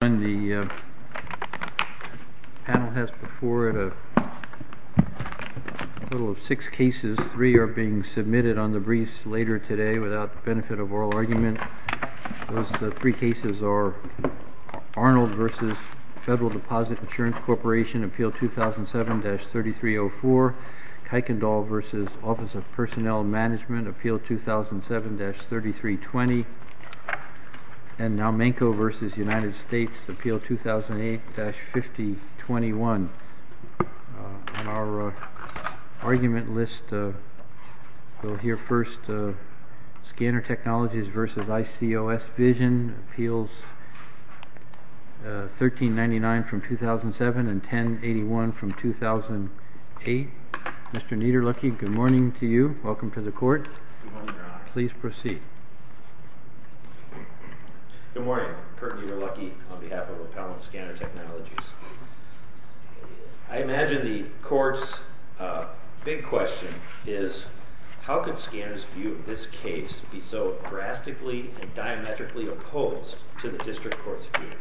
The panel has before it a total of six cases. Three are being submitted on the briefs later today without the benefit of oral argument. Those three cases are Arnold v. Federal Deposit Insurance Corporation, Appeal 2007-3304, Kuykendall v. Office of Personnel Management, Appeal 2007-3320, and Nowmenko v. United States, Appeal 2008-5021. On our argument list, we'll hear first Scanner Technologies v. Icos Vision, Appeals 1399-2007 and 1081-2008. Mr. Niederlucky, good morning to you. Welcome to the court. Please proceed. Good morning. Curt Niederlucky on behalf of Appellant Scanner Technologies. I imagine the court's big question is, how could Scanner's view of this case be so drastically and diametrically opposed to the district court's view?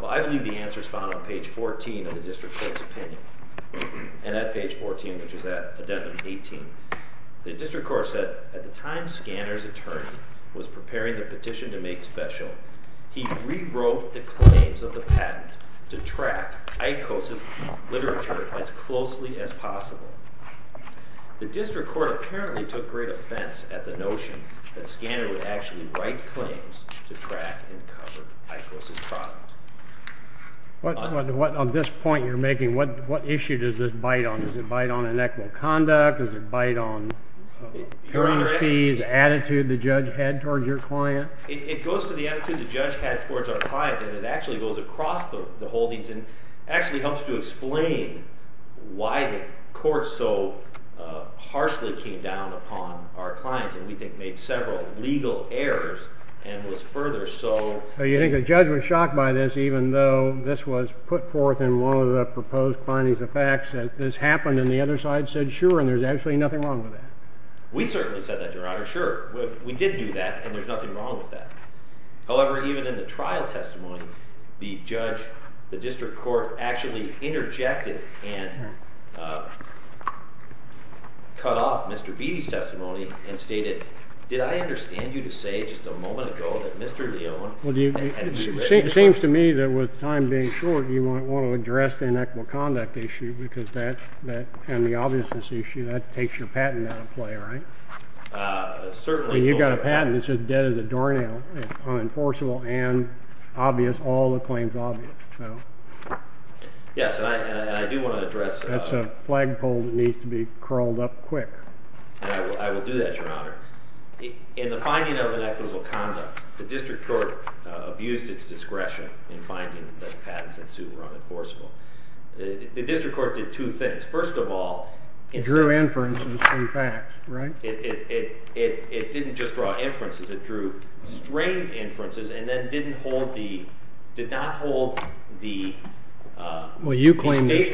Well, I believe the answer is found on page 14 of the district court's opinion. And at page 14, which is at addendum 18, the district court said, at the time Scanner's attorney was preparing the petition to make special, he rewrote the claims of the patent to track Icos' literature as closely as possible. The district court apparently took great offense at the notion that Scanner would actually write claims to track and cover Icos' product. On this point you're making, what issue does this bite on? Does it bite on inequitable conduct? Does it bite on the attitude the judge had towards your client? It goes to the attitude the judge had towards our client, and it actually goes across the holdings and actually helps to explain why the court so harshly came down upon our client, and we think made several legal errors and was further so… So you think the judge was shocked by this, even though this was put forth in one of the proposed findings of facts that this happened, and the other side said, sure, and there's actually nothing wrong with that? We certainly said that, Your Honor, sure. We did do that, and there's nothing wrong with that. However, even in the trial testimony, the judge, the district court actually interjected and cut off Mr. Beatty's testimony and stated, did I understand you to say just a moment ago that Mr. Leone… It seems to me that with time being short, you might want to address the inequitable conduct issue and the obviousness issue. That takes your patent out of play, right? Certainly. You've got a patent that says dead as a doornail, unenforceable and obvious, all the claims obvious. Yes, and I do want to address… That's a flagpole that needs to be curled up quick. I will do that, Your Honor. In the finding of inequitable conduct, the district court abused its discretion in finding that the patents ensued were unenforceable. The district court did two things. First of all… It drew inferences from facts, right? It didn't just draw inferences. It drew strained inferences and then did not hold the… Well, you claim they're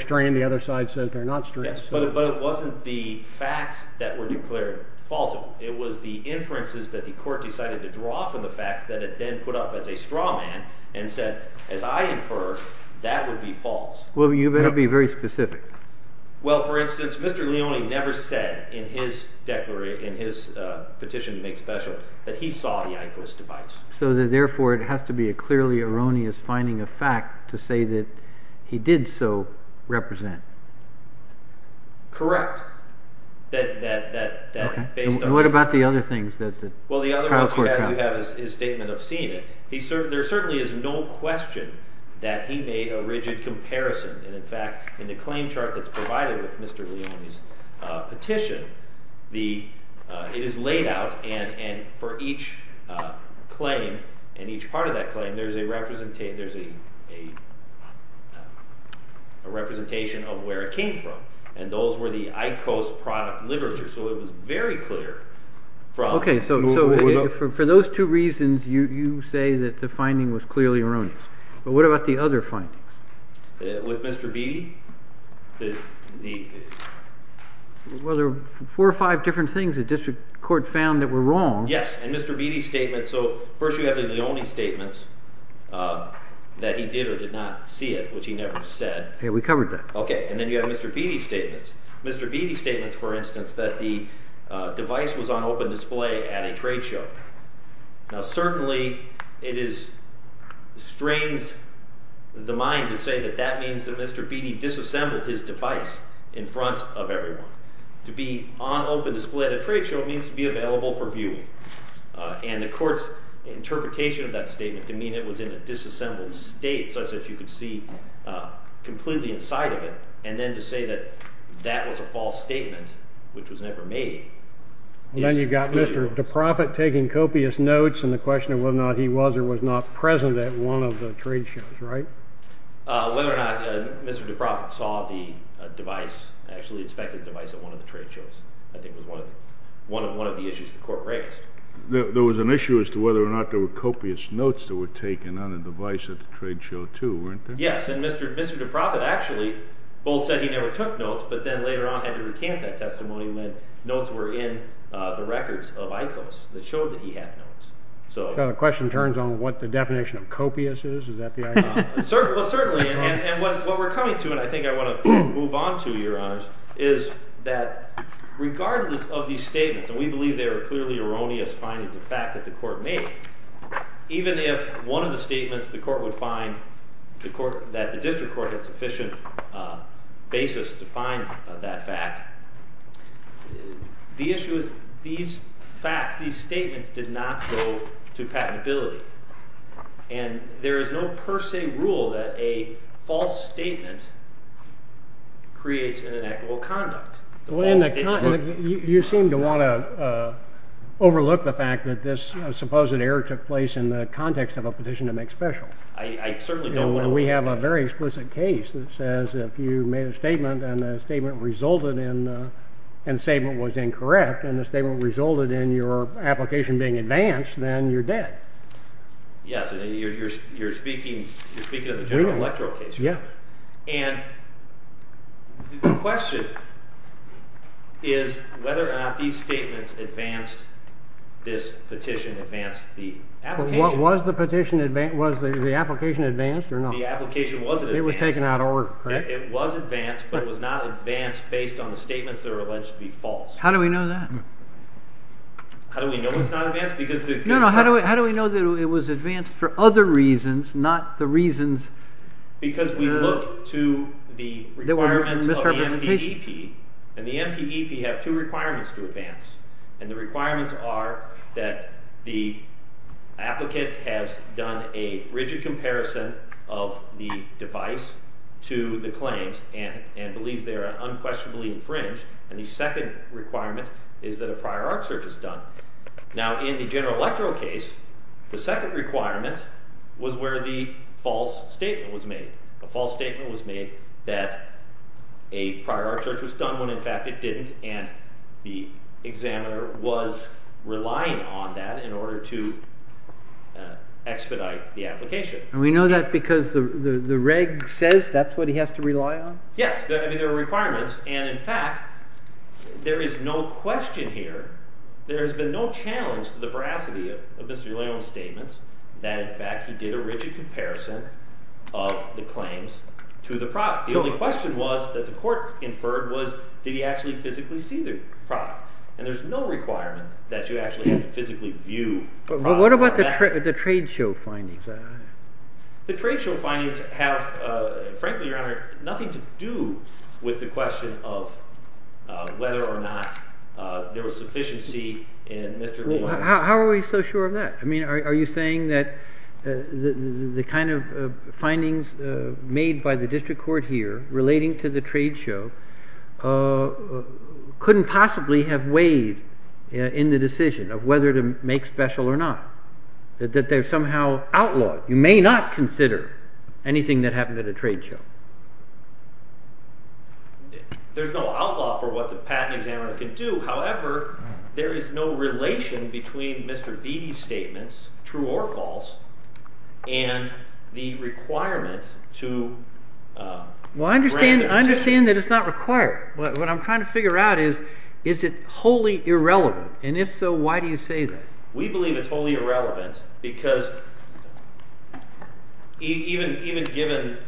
strained. The other side says they're not strained. But it wasn't the facts that were declared false. It was the inferences that the court decided to draw from the facts that it then put up as a straw man and said, as I infer, that would be false. Well, you better be very specific. Well, for instance, Mr. Leone never said in his petition to make special that he saw the IQOS device. So therefore, it has to be a clearly erroneous finding of fact to say that he did so represent. Correct. And what about the other things that the trial court found? Well, the other one you have is his statement of seeing it. There certainly is no question that he made a rigid comparison. And in fact, in the claim chart that's provided with Mr. Leone's petition, it is laid out and for each claim and each part of that claim, there's a representation of where it came from. And those were the IQOS product literature. So it was very clear from… Okay. So for those two reasons, you say that the finding was clearly erroneous. But what about the other findings? With Mr. Beatty? Well, there were four or five different things the district court found that were wrong. Yes. And Mr. Beatty's statement. So first you have the Leone statements that he did or did not see it, which he never said. Yeah, we covered that. Okay. And then you have Mr. Beatty's statements. Mr. Beatty's statements, for instance, that the device was on open display at a trade show. Now, certainly it strains the mind to say that that means that Mr. Beatty disassembled his device in front of everyone. To be on open display at a trade show means to be available for viewing. And the court's interpretation of that statement to mean it was in a disassembled state such that you could see completely inside of it, and then to say that that was a false statement, which was never made… And then you've got Mr. DeProfitt taking copious notes and the question of whether or not he was or was not present at one of the trade shows, right? Whether or not Mr. DeProfitt saw the device, actually inspected the device at one of the trade shows, I think was one of the issues the court raised. There was an issue as to whether or not there were copious notes that were taken on the device at the trade show, too, weren't there? Yes, and Mr. DeProfitt actually both said he never took notes, but then later on had to recant that testimony when notes were in the records of ICOs that showed that he had notes. So the question turns on what the definition of copious is? Is that the idea? Well, certainly, and what we're coming to, and I think I want to move on to, Your Honors, is that regardless of these statements, and we believe they are clearly erroneous findings of fact that the court made, even if one of the statements that the district court had sufficient basis to find that fact, the issue is these facts, these statements did not go to patentability. And there is no per se rule that a false statement creates an inequitable conduct. You seem to want to overlook the fact that this supposed error took place in the context of a petition to make special. I certainly don't want to overlook that. We have a very explicit case that says if you made a statement and the statement resulted in, and the statement was incorrect, and the statement resulted in your application being advanced, then you're dead. Yes, and you're speaking of the General Electoral case. Yeah. And the question is whether or not these statements advanced this petition, advanced the application. Was the application advanced or not? The application wasn't advanced. It was taken out of order, correct? It was advanced, but it was not advanced based on the statements that were alleged to be false. How do we know that? How do we know it's not advanced? No, no, how do we know that it was advanced for other reasons, not the reasons that were misrepresentations? Because we look to the requirements of the MPEP, and the MPEP have two requirements to advance. And the requirements are that the applicant has done a rigid comparison of the device to the claims and believes they are unquestionably infringed. And the second requirement is that a prior art search is done. Now, in the General Electoral case, the second requirement was where the false statement was made. A false statement was made that a prior art search was done when in fact it didn't, and the examiner was relying on that in order to expedite the application. And we know that because the reg says that's what he has to rely on? Yes, there are requirements. And in fact, there is no question here, there has been no challenge to the veracity of Mr. Leone's statements that in fact he did a rigid comparison of the claims to the product. The only question was that the court inferred was did he actually physically see the product? And there's no requirement that you actually have to physically view the product. But what about the trade show findings? The trade show findings have, frankly, Your Honor, nothing to do with the question of whether or not there was sufficiency in Mr. Leone's. How are we so sure of that? I mean, are you saying that the kind of findings made by the district court here relating to the trade show couldn't possibly have weighed in the decision of whether to make special or not? That they're somehow outlawed? You may not consider anything that happened at a trade show. There's no outlaw for what the patent examiner can do. However, there is no relation between Mr. Beattie's statements, true or false, and the requirements to grant the petition. Well, I understand that it's not required. What I'm trying to figure out is is it wholly irrelevant? And if so, why do you say that? We believe it's wholly irrelevant because even given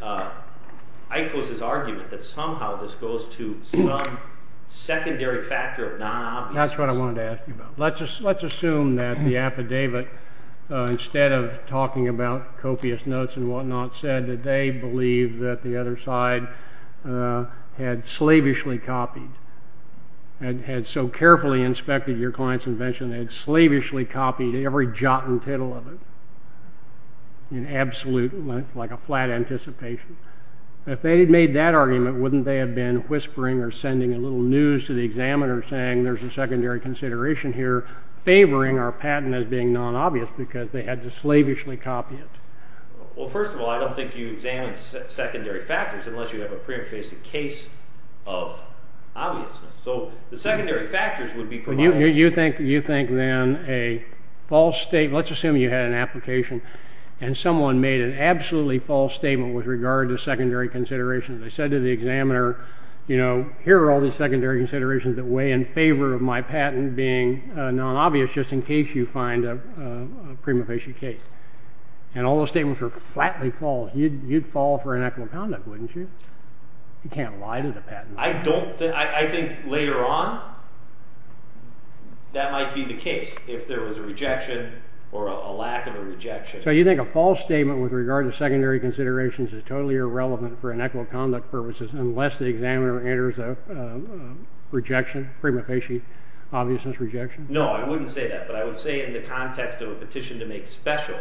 Icos's argument that somehow this goes to some secondary factor of non-obviousness. That's what I wanted to ask you about. Let's assume that the affidavit, instead of talking about copious notes and whatnot, said that they believe that the other side had slavishly copied, had so carefully inspected your client's invention, they had slavishly copied every jot and tittle of it in absolute, like a flat anticipation. If they had made that argument, wouldn't they have been whispering or sending a little news to the examiner saying there's a secondary consideration here, favoring our patent as being non-obvious because they had to slavishly copy it? Well, first of all, I don't think you examine secondary factors unless you have a prima facie case of obviousness. So the secondary factors would be provided. You think then a false statement, let's assume you had an application and someone made an absolutely false statement with regard to secondary considerations. They said to the examiner, you know, here are all these secondary considerations that weigh in favor of my patent being non-obvious just in case you find a prima facie case. And all those statements were flatly false. You'd fall for inequitable conduct, wouldn't you? You can't lie to the patent. I don't think, I think later on that might be the case if there was a rejection or a lack of a rejection. So you think a false statement with regard to secondary considerations is totally irrelevant for inequitable conduct purposes unless the examiner enters a rejection, prima facie, obviousness rejection? No, I wouldn't say that. But I would say in the context of a petition to make special,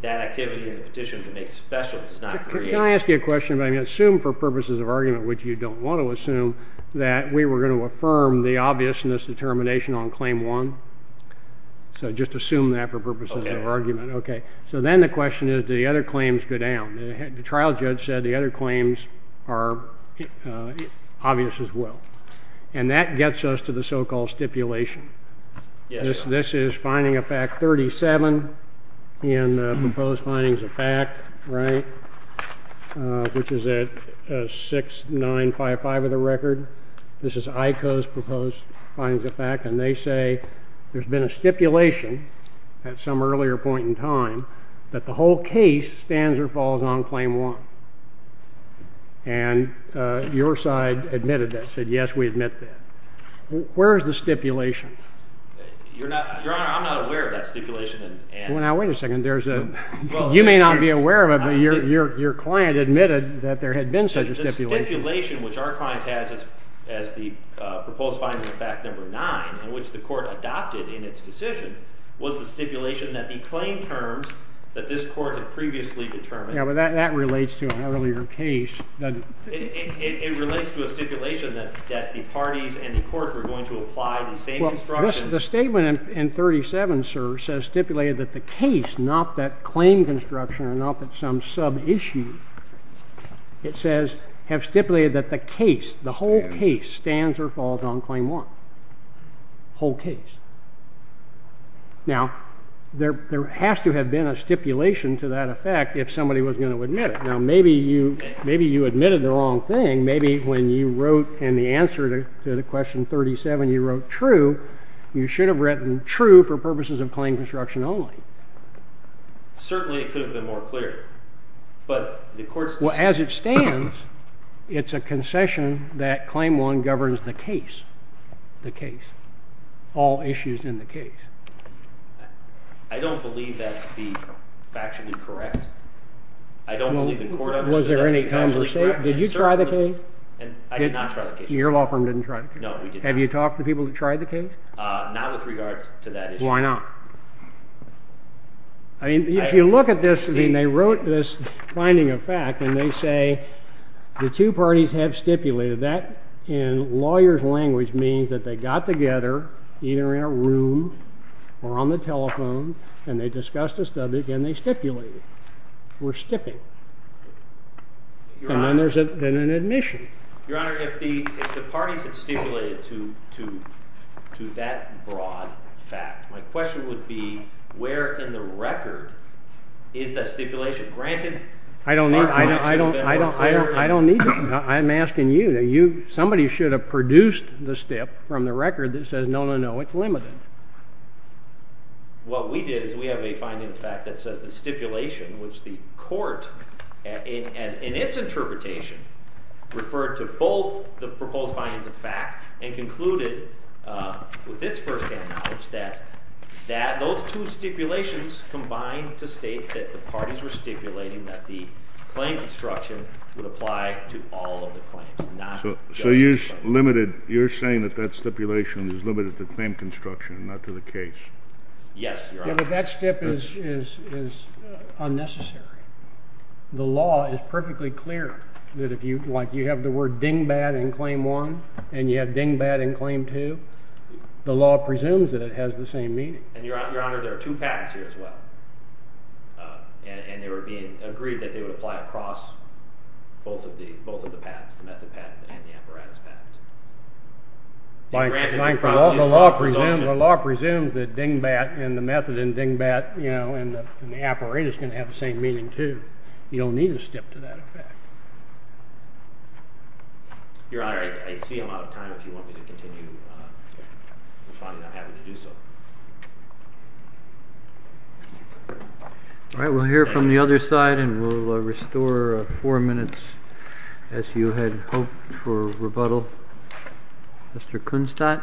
that activity in the petition to make special does not create... Can I ask you a question about, I mean, assume for purposes of argument, which you don't want to assume, that we were going to affirm the obviousness determination on claim one? So just assume that for purposes of argument. Okay. Okay. So then the question is, do the other claims go down? The trial judge said the other claims are obvious as well. And that gets us to the so-called stipulation. Yes. This is finding of fact 37 in the proposed findings of fact, right, which is at 6955 of the record. This is ICO's proposed findings of fact. And they say there's been a stipulation at some earlier point in time that the whole case stands or falls on claim one. And your side admitted that, said, yes, we admit that. Where is the stipulation? Your Honor, I'm not aware of that stipulation. Well, now, wait a second. You may not be aware of it, but your client admitted that there had been such a stipulation. The stipulation which our client has as the proposed finding of fact number nine, in which the court adopted in its decision, was the stipulation that the claim terms that this court had previously determined. Yeah, but that relates to an earlier case, doesn't it? It relates to a stipulation that the parties and the court were going to apply the same instructions. The statement in 37, sir, says stipulated that the case, not that claim construction or not that some sub-issue, it says have stipulated that the case, the whole case stands or falls on claim one. Whole case. Now, there has to have been a stipulation to that effect if somebody was going to admit it. Now, maybe you admitted the wrong thing. Maybe when you wrote in the answer to the question 37, you wrote true. You should have written true for purposes of claim construction only. Certainly, it could have been more clear, but the court's decision. Well, as it stands, it's a concession that claim one governs the case, the case, all issues in the case. I don't believe that to be factually correct. I don't believe the court understood that to be factually correct. Was there any time of mistake? Did you try the case? I did not try the case. Your law firm didn't try the case. No, we didn't. Have you talked to people who tried the case? Not with regard to that issue. Why not? I mean, if you look at this, I mean, they wrote this finding of fact, and they say the two parties have stipulated. That, in lawyers' language, means that they got together either in a room or on the telephone, and they discussed the subject, and they stipulated. We're stipping. And then there's an admission. Your Honor, if the parties had stipulated to that broad fact, my question would be, where in the record is that stipulation? Granted, the parties should have been more clear. I don't need that. I'm asking you. Somebody should have produced the stip from the record that says, no, no, no, it's limited. What we did is we have a finding of fact that says the stipulation, which the court, in its interpretation, referred to both the proposed findings of fact, and concluded with its firsthand knowledge that those two stipulations combined to state that the parties were stipulating that the claim construction would apply to all of the claims, not just one. You're saying that that stipulation is limited to claim construction, not to the case. Yes, Your Honor. Yeah, but that stip is unnecessary. The law is perfectly clear that if you have the word dingbat in Claim 1, and you have dingbat in Claim 2, the law presumes that it has the same meaning. And Your Honor, there are two patents here as well. And they were being agreed that they would apply across both of the patents, the method patent and the apparatus patent. By and large, the law presumes that dingbat in the method and dingbat in the apparatus can have the same meaning, too. You don't need a stip to that effect. Your Honor, I see I'm out of time. If you want me to continue responding, I'm happy to do so. All right, we'll hear from the other side, and we'll restore four minutes as you had hoped for rebuttal. Mr. Kunstadt.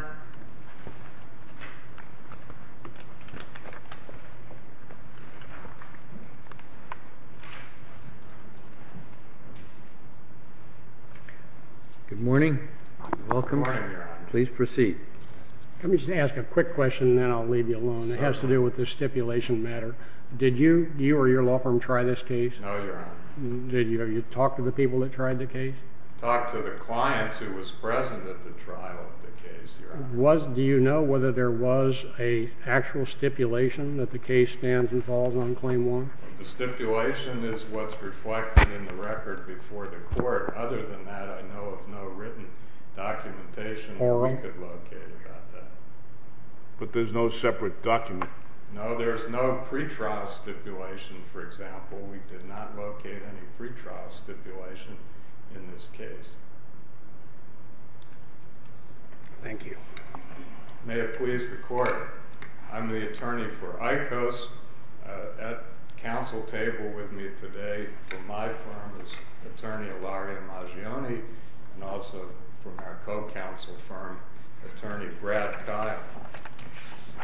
Good morning. Good morning, Your Honor. Please proceed. Let me just ask a quick question, and then I'll leave you alone. It has to do with the stipulation matter. Did you or your law firm try this case? No, Your Honor. Did you talk to the people that tried the case? Talked to the client who was present at the trial of the case, Your Honor. Do you know whether there was an actual stipulation that the case stands and falls on Claim 1? The stipulation is what's reflected in the record before the court. Other than that, I know of no written documentation that we could locate about that. But there's no separate document? No, there's no pretrial stipulation, for example. We did not locate any pretrial stipulation in this case. Thank you. May it please the Court, I'm the attorney for ICOS. At counsel table with me today from my firm is attorney Ilaria Maggioni, and also from our co-counsel firm, attorney Brad Kyle.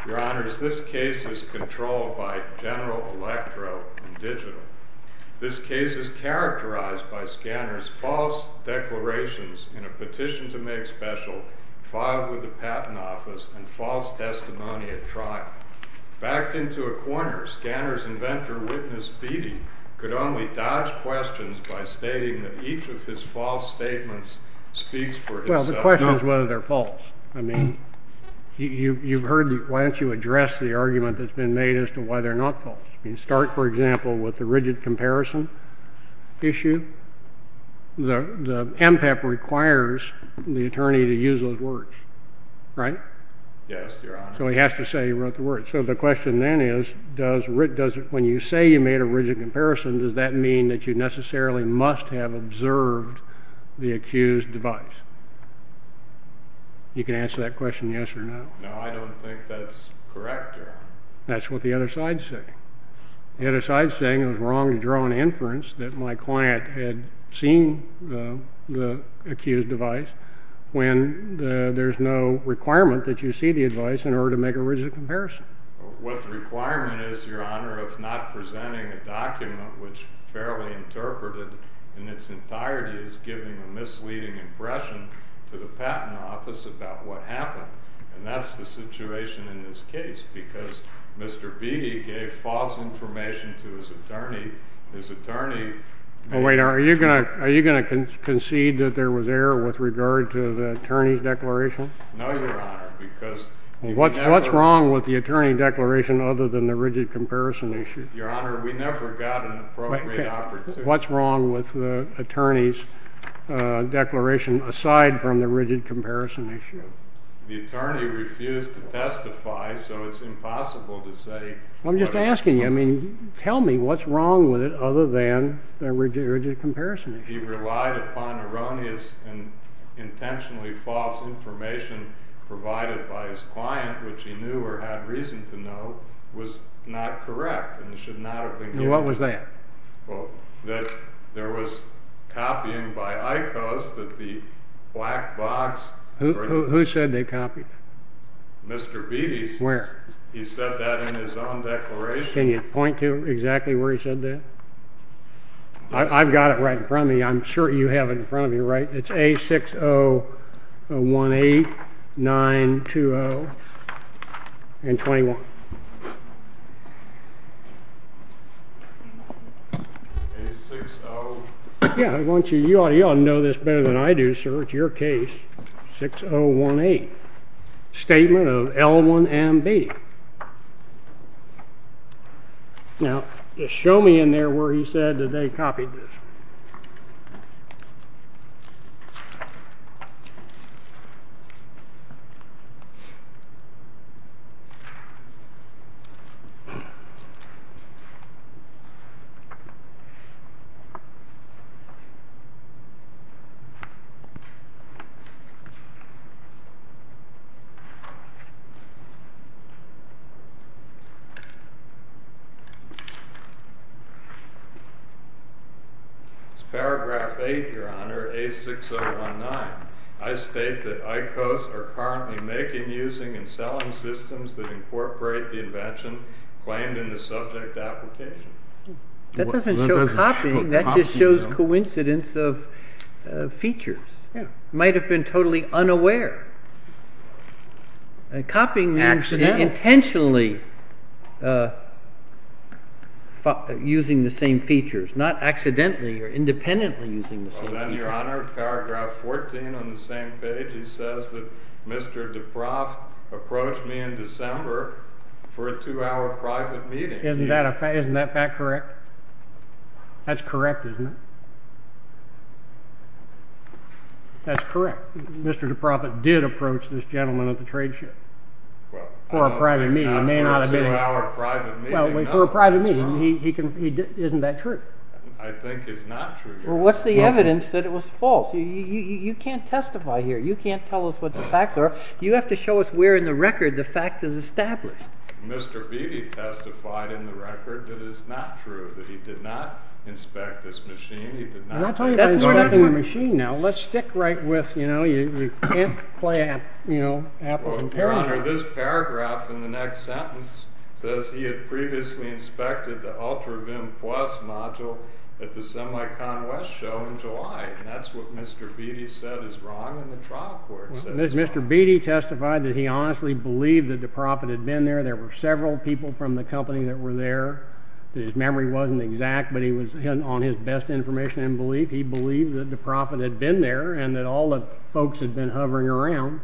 Your Honors, this case is controlled by General Electro and Digital. This case is characterized by Scanner's false declarations in a petition to make special filed with the Patent Office and false testimony at trial. Backed into a corner, Scanner's inventor, Witness Beattie, could only dodge questions by stating that each of his false statements speaks for itself. Well, the question is whether they're false. I mean, you've heard why don't you address the argument that's been made as to why they're not false. You start, for example, with the rigid comparison issue. The MPAP requires the attorney to use those words, right? Yes, Your Honor. So he has to say he wrote the words. So the question then is, when you say you made a rigid comparison, does that mean that you necessarily must have observed the accused device? You can answer that question yes or no. No, I don't think that's correct, Your Honor. That's what the other side's saying. The other side's saying it was wrong to draw an inference that my client had seen the accused device when there's no requirement that you see the device in order to make a rigid comparison. What the requirement is, Your Honor, of not presenting a document which, fairly interpreted in its entirety, is giving a misleading impression to the Patent Office about what happened. And that's the situation in this case because Mr. Beatty gave false information to his attorney. His attorney— Wait, are you going to concede that there was error with regard to the attorney's declaration? No, Your Honor, because— What's wrong with the attorney declaration other than the rigid comparison issue? Your Honor, we never got an appropriate opportunity— What's wrong with the attorney's declaration aside from the rigid comparison issue? The attorney refused to testify, so it's impossible to say what is— Well, I'm just asking you, I mean, tell me what's wrong with it other than the rigid comparison issue. He relied upon erroneous and intentionally false information provided by his client, which he knew or had reason to know was not correct and should not have been given. And what was that? That there was copying by ICOs that the black box— Who said they copied? Mr. Beatty. Where? He said that in his own declaration. Can you point to exactly where he said that? I've got it right in front of me. I'm sure you have it in front of you, right? It's A6018, 920, and 21. A60— Yeah, I want you—you ought to know this better than I do, sir. It's your case, 6018. Statement of L1M Beatty. Now, just show me in there where he said that they copied this. Paragraph 8, Your Honor. For A6019, I state that ICOs are currently making, using, and selling systems that incorporate the invention claimed in the subject application. That doesn't show copying. That just shows coincidence of features. Might have been totally unaware. Copying means intentionally using the same features, not accidentally or independently using the same features. Well, then, Your Honor, paragraph 14 on the same page, he says that Mr. DeProft approached me in December for a two-hour private meeting. Isn't that fact correct? That's correct, isn't it? That's correct. Mr. DeProft did approach this gentleman at the trade show. Well, I don't think that's true. For a private meeting, he—isn't that true? I think it's not true, Your Honor. Well, what's the evidence that it was false? You can't testify here. You can't tell us what the facts are. You have to show us where in the record the fact is established. Mr. Beattie testified in the record that it is not true, that he did not inspect this machine. That's more than a machine now. Let's stick right with, you know, you can't play, you know, apples and pears. Your Honor, this paragraph in the next sentence says he had previously inspected the UltraVim Plus module at the Semicon West show in July, and that's what Mr. Beattie said is wrong, and the trial court says it's wrong. Well, Mr. Beattie testified that he honestly believed that DeProft had been there. There were several people from the company that were there. His memory wasn't exact, but he was—on his best information and belief, he believed that DeProft had been there and that all the folks had been hovering around,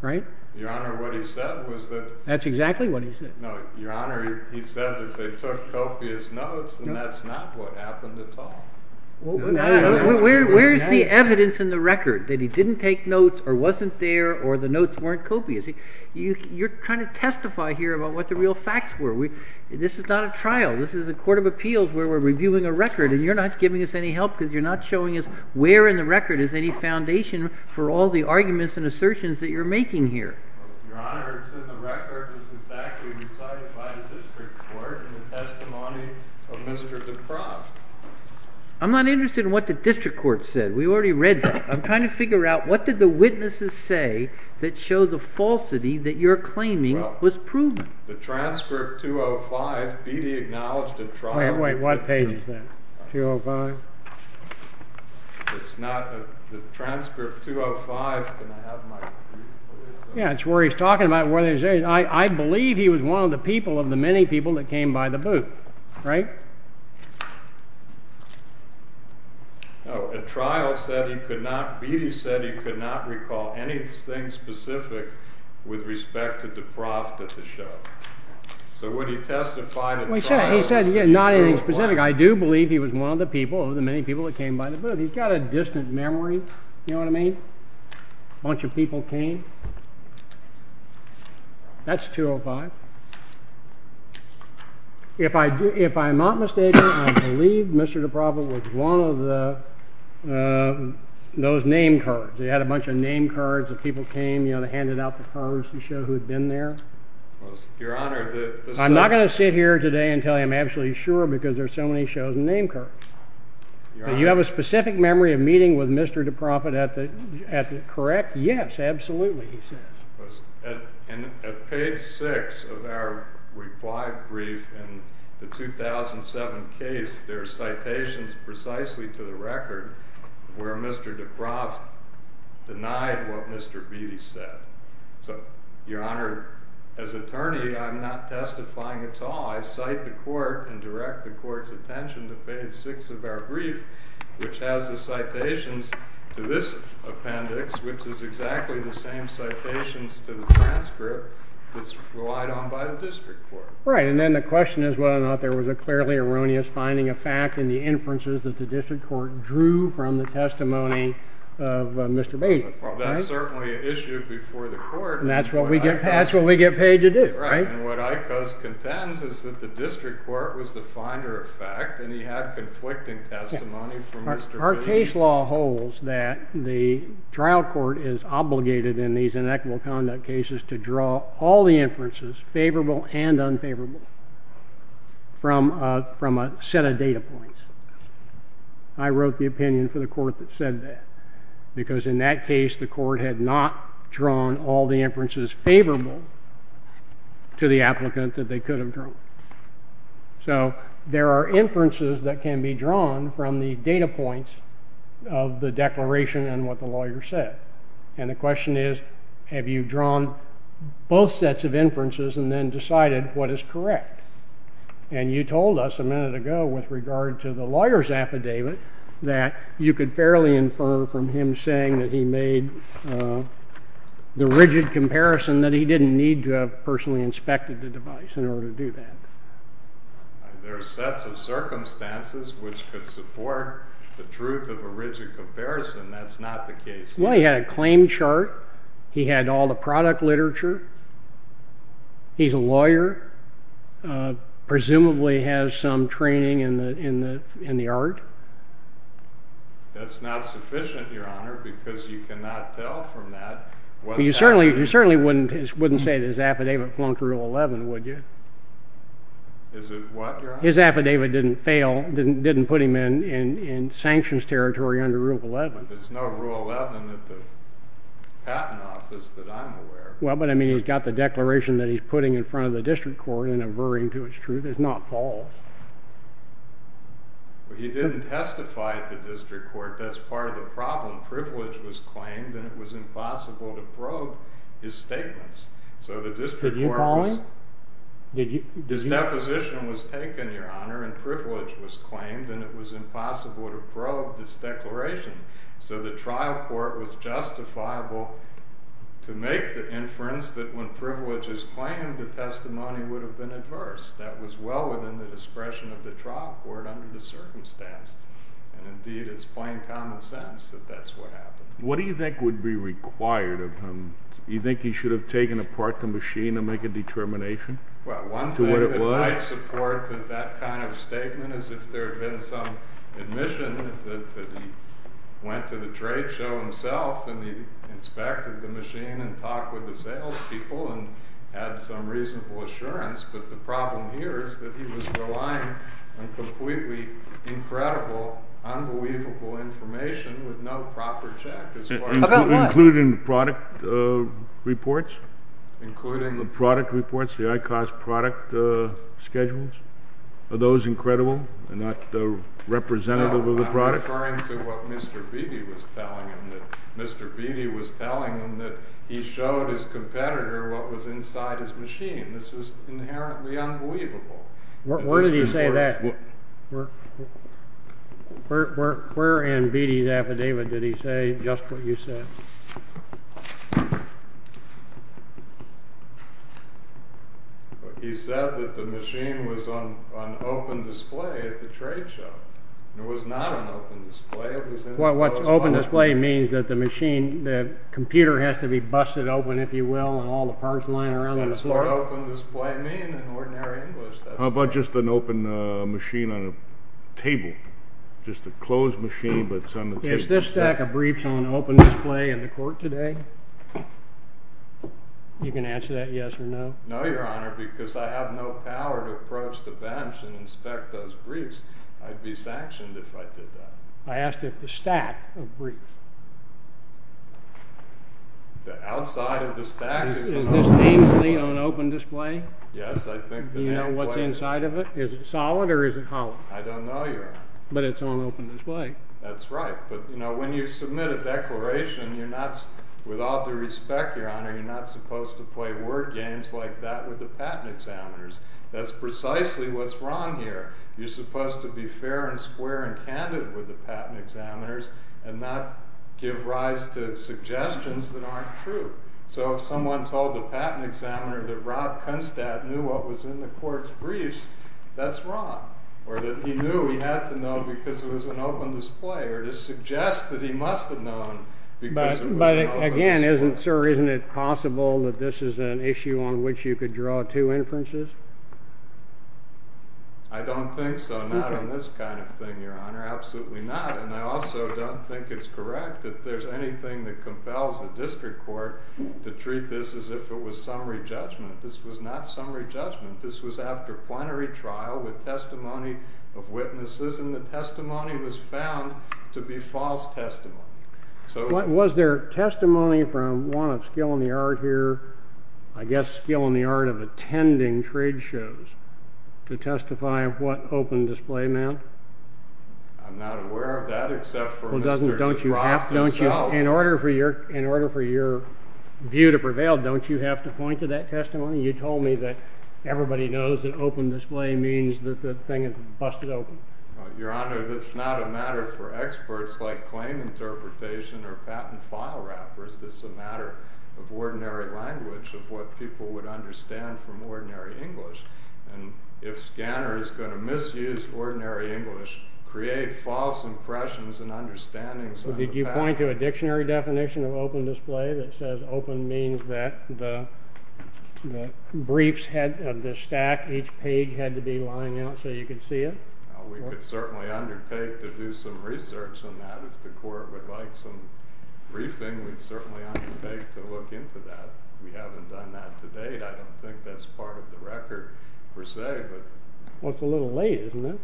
right? Your Honor, what he said was that— That's exactly what he said. No, Your Honor, he said that they took copious notes, and that's not what happened at all. Where is the evidence in the record that he didn't take notes, or wasn't there, or the notes weren't copious? You're trying to testify here about what the real facts were. This is not a trial. This is a court of appeals where we're reviewing a record, and you're not giving us any help because you're not showing us where in the record is any foundation for all the arguments and assertions that you're making here. Well, Your Honor, it's in the record. It's exactly recited by the district court in the testimony of Mr. DeProft. I'm not interested in what the district court said. We already read that. I'm trying to figure out what did the witnesses say that show the falsity that you're claiming was proven. Well, the transcript 205, Beattie acknowledged a trial— Wait, wait, what page is that? 205? It's not—the transcript 205—can I have my— Yeah, it's where he's talking about— I believe he was one of the people, of the many people, that came by the booth, right? No, a trial said he could not—Beattie said he could not recall anything specific with respect to DeProft at the show. So when he testified at the trial— He said not anything specific. I do believe he was one of the people, of the many people, that came by the booth. He's got a distant memory, you know what I mean? A bunch of people came. That's 205. If I'm not mistaken, I believe Mr. DeProft was one of those name cards. He had a bunch of name cards. If people came, you know, they handed out the cards to show who'd been there. Your Honor, the— I'm not going to sit here today and tell you I'm absolutely sure because there's so many shows and name cards. You have a specific memory of meeting with Mr. DeProft at the— Correct? Yes, absolutely, he says. At page 6 of our reply brief in the 2007 case, there are citations precisely to the record where Mr. DeProft denied what Mr. Beattie said. So, Your Honor, as attorney, I'm not testifying at all. I cite the court and direct the court's attention to page 6 of our brief, which has the citations to this appendix, which is exactly the same citations to the transcript that's relied on by the district court. Right, and then the question is whether or not there was a clearly erroneous finding of fact in the inferences that the district court drew from the testimony of Mr. Beattie. That's certainly an issue before the court. And that's what we get paid to do, right? And what ICOS contends is that the district court was the finder of fact and he had conflicting testimony from Mr. Beattie. Our case law holds that the trial court is obligated in these inequitable conduct cases to draw all the inferences favorable and unfavorable from a set of data points. I wrote the opinion for the court that said that because in that case the court had not drawn all the inferences favorable to the applicant that they could have drawn. So there are inferences that can be drawn from the data points of the declaration and what the lawyer said. And the question is, have you drawn both sets of inferences and then decided what is correct? And you told us a minute ago with regard to the lawyer's affidavit that you could fairly infer from him saying that he made the rigid comparison that he didn't need to have personally inspected the device in order to do that. There are sets of circumstances which could support the truth of a rigid comparison. That's not the case here. Well, he had a claim chart. He had all the product literature. He's a lawyer, presumably has some training in the art. That's not sufficient, Your Honor, because you cannot tell from that. You certainly wouldn't say that his affidavit belonged to Rule 11, would you? Is it what, Your Honor? His affidavit didn't fail, didn't put him in sanctions territory under Rule 11. But there's no Rule 11 at the patent office that I'm aware of. Well, but I mean he's got the declaration that he's putting in front of the district court and averring to its truth. It's not false. Well, he didn't testify at the district court. That's part of the problem. Privilege was claimed and it was impossible to probe his statements. So the district court was... Did you call him? His deposition was taken, Your Honor, and privilege was claimed and it was impossible to probe this declaration. So the trial court was justifiable to make the inference that when privilege is claimed the testimony would have been adverse. That was well within the discretion of the trial court under the circumstance. And indeed, it's plain common sense that that's what happened. What do you think would be required of him? Do you think he should have taken apart the machine to make a determination? Well, one thing that I support with that kind of statement is if there had been some admission that he went to the trade show himself and he inspected the machine and talked with the salespeople and had some reasonable assurance, but the problem here is that he was relying on completely incredible, unbelievable information with no proper check as far as... Including product reports? Including... The product reports, the high-cost product schedules? Are those incredible and not representative of the product? No, I'm referring to what Mr. Beatty was telling him, that Mr. Beatty was telling him that he showed his competitor what was inside his machine. This is inherently unbelievable. Where did he say that? Where in Beatty's affidavit did he say just what you said? He said that the machine was on open display at the trade show. It was not on open display. Open display means that the computer has to be busted open, if you will, and all the parts lying around on the floor. What does open display mean in ordinary English? How about just an open machine on a table? Just a closed machine, but it's on the table. Is this stack of briefs on open display in the court today? You can answer that yes or no. No, Your Honor, because I have no power to approach the bench and inspect those briefs. I'd be sanctioned if I did that. I asked if the stack of briefs. The outside of the stack is on open display. Is this nameplate on open display? Yes, I think the nameplate is. Do you know what's inside of it? Is it solid or is it hollow? I don't know, Your Honor. But it's on open display. That's right, but when you submit a declaration, you're not, with all due respect, Your Honor, you're not supposed to play word games like that with the patent examiners. That's precisely what's wrong here. You're supposed to be fair and square and candid with the patent examiners and not give rise to suggestions that aren't true. So if someone told the patent examiner that Rob Kunstadt knew what was in the court's briefs, that's wrong, or that he knew he had to know because it was on open display, or to suggest that he must have known because it was on open display. But again, sir, isn't it possible that this is an issue on which you could draw two inferences? I don't think so. Not on this kind of thing, Your Honor. Absolutely not. And I also don't think it's correct that there's anything that compels the district court to treat this as if it was summary judgment. This was not summary judgment. This was after plenary trial with testimony of witnesses, and the testimony was found to be false testimony. Was there testimony from one of skill in the art here, I guess skill in the art of attending trade shows, to testify of what open display meant? I'm not aware of that except for Mr. Kunstadt. In order for your view to prevail, don't you have to point to that testimony? You told me that everybody knows that open display means that the thing is busted open. Your Honor, that's not a matter for experts like claim interpretation or patent file wrappers. That's a matter of ordinary language, of what people would understand from ordinary English. If a scanner is going to misuse ordinary English, create false impressions and understandings. Did you point to a dictionary definition of open display that says open means that the briefs, the stack, each page had to be lined out so you could see it? We could certainly undertake to do some research on that. If the court would like some briefing, we'd certainly undertake to look into that. We haven't done that to date. I don't think that's part of the record per se. Well, it's a little late, isn't it?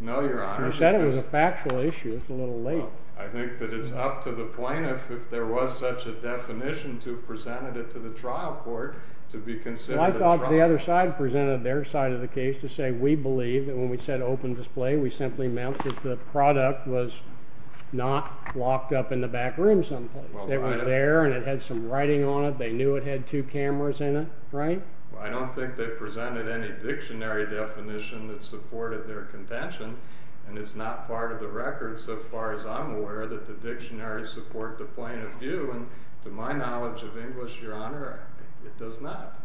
No, Your Honor. You said it was a factual issue. It's a little late. I think that it's up to the plaintiff, if there was such a definition, to present it to the trial court to be considered a trial. I thought the other side presented their side of the case to say we believe that when we said open display, we simply meant that the product was not locked up in the back room someplace. It was there and it had some writing on it. They knew it had two cameras in it, right? I don't think they presented any dictionary definition that supported their contention, and it's not part of the record so far as I'm aware that the dictionaries support the plaintiff's view. To my knowledge of English, Your Honor, it does not.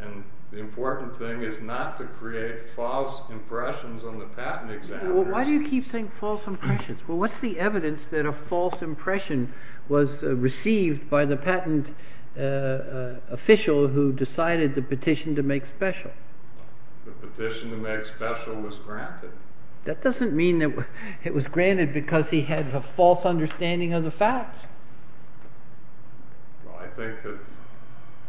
And the important thing is not to create false impressions on the patent examiners. Why do you keep saying false impressions? Well, what's the evidence that a false impression was received by the patent official who decided the petition to make special? The petition to make special was granted. That doesn't mean that it was granted because he had a false understanding of the facts. Well, I think that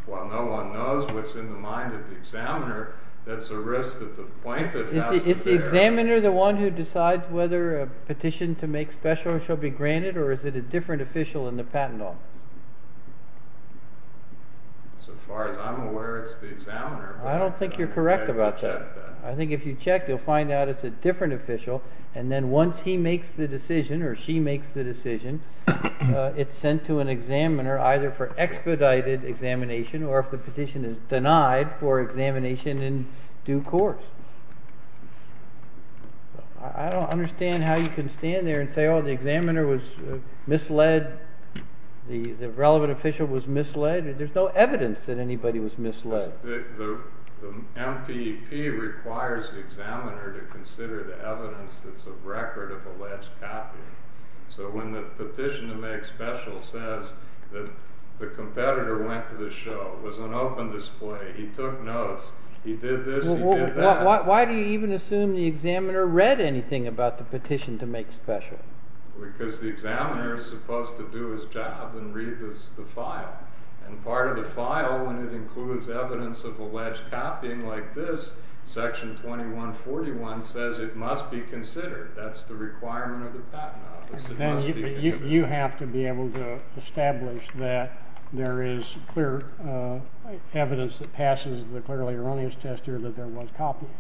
while no one knows what's in the mind of the examiner, that's a risk that the plaintiff has to bear. Is the examiner the one who decides whether a petition to make special shall be granted, or is it a different official in the patent office? So far as I'm aware, it's the examiner. I don't think you're correct about that. I think if you check, you'll find out it's a different official, and then once he makes the decision or she makes the decision, it's sent to an examiner either for expedited examination or if the petition is denied for examination in due course. I don't understand how you can stand there and say, oh, the examiner was misled. The relevant official was misled. There's no evidence that anybody was misled. The MPP requires the examiner to consider the evidence that's a record of the last copy. So when the petition to make special says that the competitor went to the show, was on open display, he took notes, he did this, he did that. Why do you even assume the examiner read anything about the petition to make special? Because the examiner is supposed to do his job and read the file. And part of the file, when it includes evidence of alleged copying like this, Section 2141 says it must be considered. That's the requirement of the Patent Office. It must be considered. Then you have to be able to establish that there is clear evidence that passes the clearly erroneous test here that there was copying.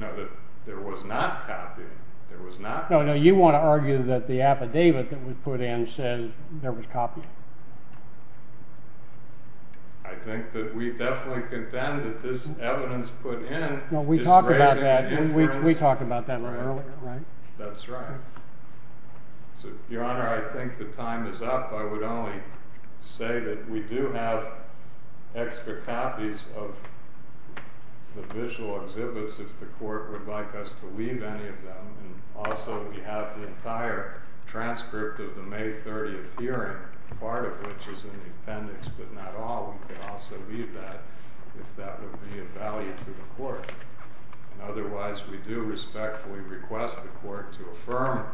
No, that there was not copying. There was not copying. No, no, you want to argue that the affidavit that was put in says there was copying. I think that we definitely contend that this evidence put in is raising a difference. No, we talked about that. We talked about that earlier, right? That's right. Your Honor, I think the time is up. I would only say that we do have extra copies of the visual exhibits if the Court would like us to leave any of them. Also, we have the entire transcript of the May 30th hearing, part of which is in the appendix, but not all. We could also leave that if that would be of value to the Court. Otherwise, we do respectfully request the Court to affirm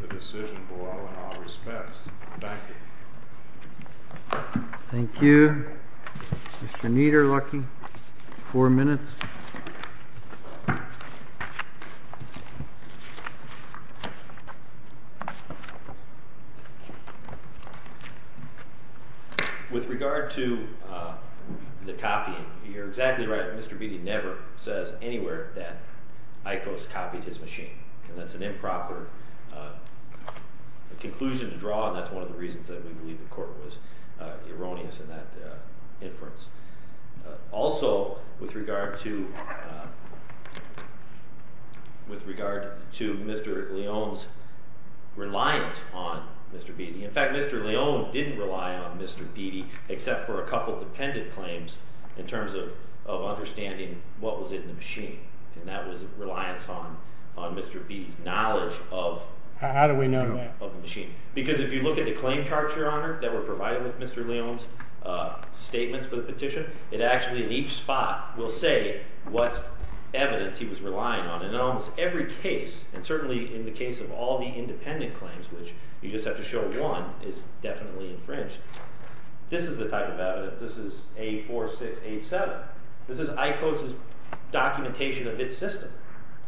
the decision below in all respects. Thank you. Thank you. Mr. Niederlucky, four minutes. With regard to the copying, you're exactly right. Mr. Beatty never says anywhere that Icos copied his machine, and that's an improper conclusion to draw, and that's one of the reasons that we believe the Court was erroneous in that inference. Also, with regard to Mr. Leone's reliance on Mr. Beatty, in fact, Mr. Leone didn't rely on Mr. Beatty except for a couple of dependent claims in terms of understanding what was in the machine, and that was reliance on Mr. Beatty's knowledge of the machine. How do we know that? Because if you look at the claim charts, Your Honor, that were provided with Mr. Leone's statements for the petition, it actually, in each spot, will say what evidence he was relying on. In almost every case, and certainly in the case of all the independent claims, which you just have to show one is definitely infringed, this is the type of evidence. This is A4687. This is Icos's documentation of its system.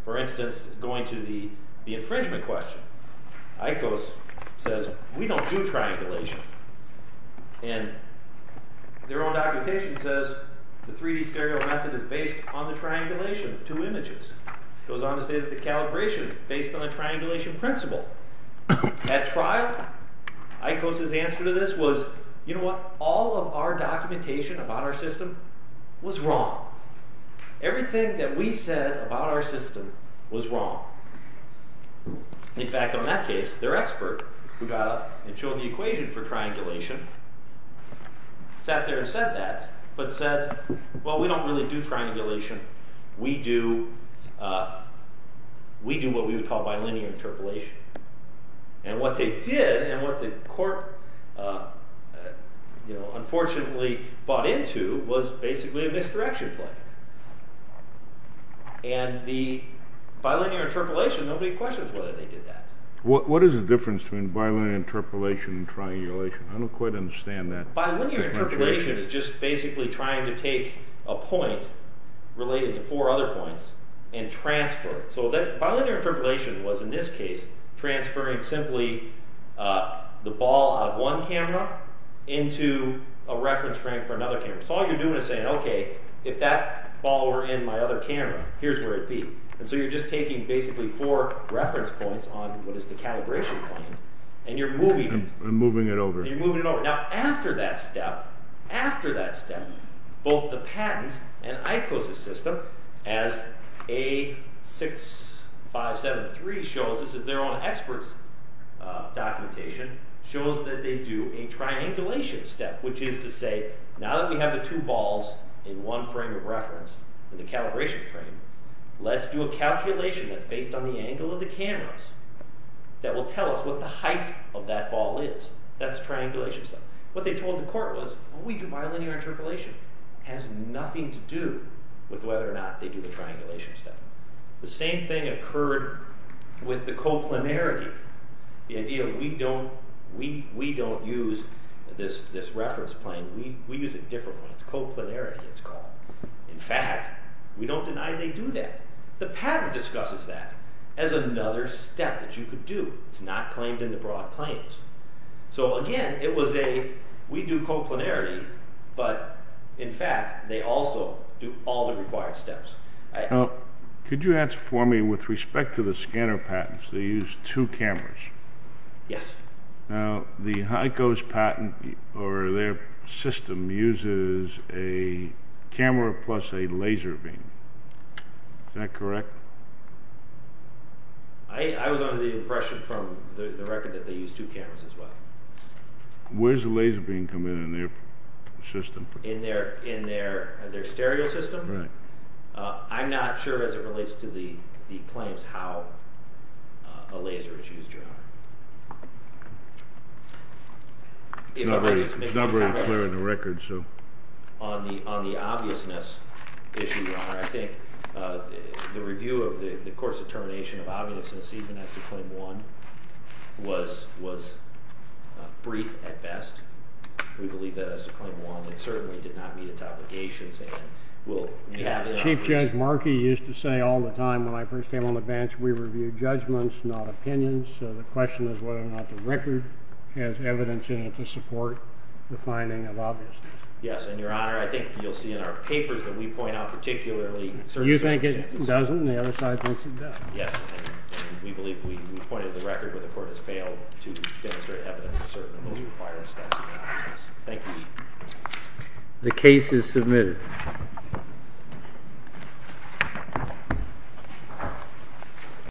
For instance, going to the infringement question, Icos says, We don't do triangulation. And their own documentation says the 3D stereo method is based on the triangulation of two images. It goes on to say that the calibration is based on the triangulation principle. At trial, Icos's answer to this was, You know what, all of our documentation about our system was wrong. Everything that we said about our system was wrong. In fact, on that case, their expert, who got up and showed the equation for triangulation, sat there and said that, but said, Well, we don't really do triangulation. We do what we would call bilinear interpolation. And what they did, and what the court unfortunately bought into, was basically a misdirection play. And the bilinear interpolation, nobody questions whether they did that. What is the difference between bilinear interpolation and triangulation? I don't quite understand that. Bilinear interpolation is just basically trying to take a point, related to four other points, and transfer it. So bilinear interpolation was, in this case, transferring simply the ball of one camera into a reference frame for another camera. So all you're doing is saying, Okay, if that ball were in my other camera, here's where it'd be. So you're just taking basically four reference points on what is the calibration plane, and you're moving it over. Now, after that step, both the patent and ICOSIS system, as A6573 shows, this is their own experts' documentation, shows that they do a triangulation step, which is to say, now that we have the two balls in one frame of reference, in the calibration frame, let's do a calculation that's based on the angle of the cameras that will tell us what the height of that ball is. That's a triangulation step. What they told the court was, We do bilinear interpolation. It has nothing to do with whether or not they do the triangulation step. The same thing occurred with the coplanarity. The idea that we don't use this reference plane, we use a different one. It's coplanarity, it's called. In fact, we don't deny they do that. The patent discusses that as another step that you could do. It's not claimed in the broad claims. Again, it was a, we do coplanarity, but, in fact, they also do all the required steps. Could you answer for me, with respect to the scanner patents, they use two cameras. Yes. Now, the HICOS patent, or their system, uses a camera plus a laser beam. Is that correct? I was under the impression from the record that they use two cameras as well. Where's the laser beam come in in their system? In their stereo system? Right. I'm not sure as it relates to the claims how a laser is used, Your Honor. It's not very clear in the record, so. On the obviousness issue, Your Honor, I think the review of the course of termination of obviousness, even as to claim one, was brief at best. We believe that as to claim one, it certainly did not meet its obligations. And we'll have it obvious. Chief Judge Markey used to say all the time when I first came on the bench, we review judgments, not opinions. So the question is whether or not the record has evidence in it to support the finding of obviousness. Yes, and, Your Honor, I think you'll see in our papers that we point out particularly certain circumstances. You think it doesn't, and the other side thinks it does. Yes, and we believe we pointed the record where the court has failed to demonstrate evidence of certain of those required steps in obviousness. Thank you. The case is submitted.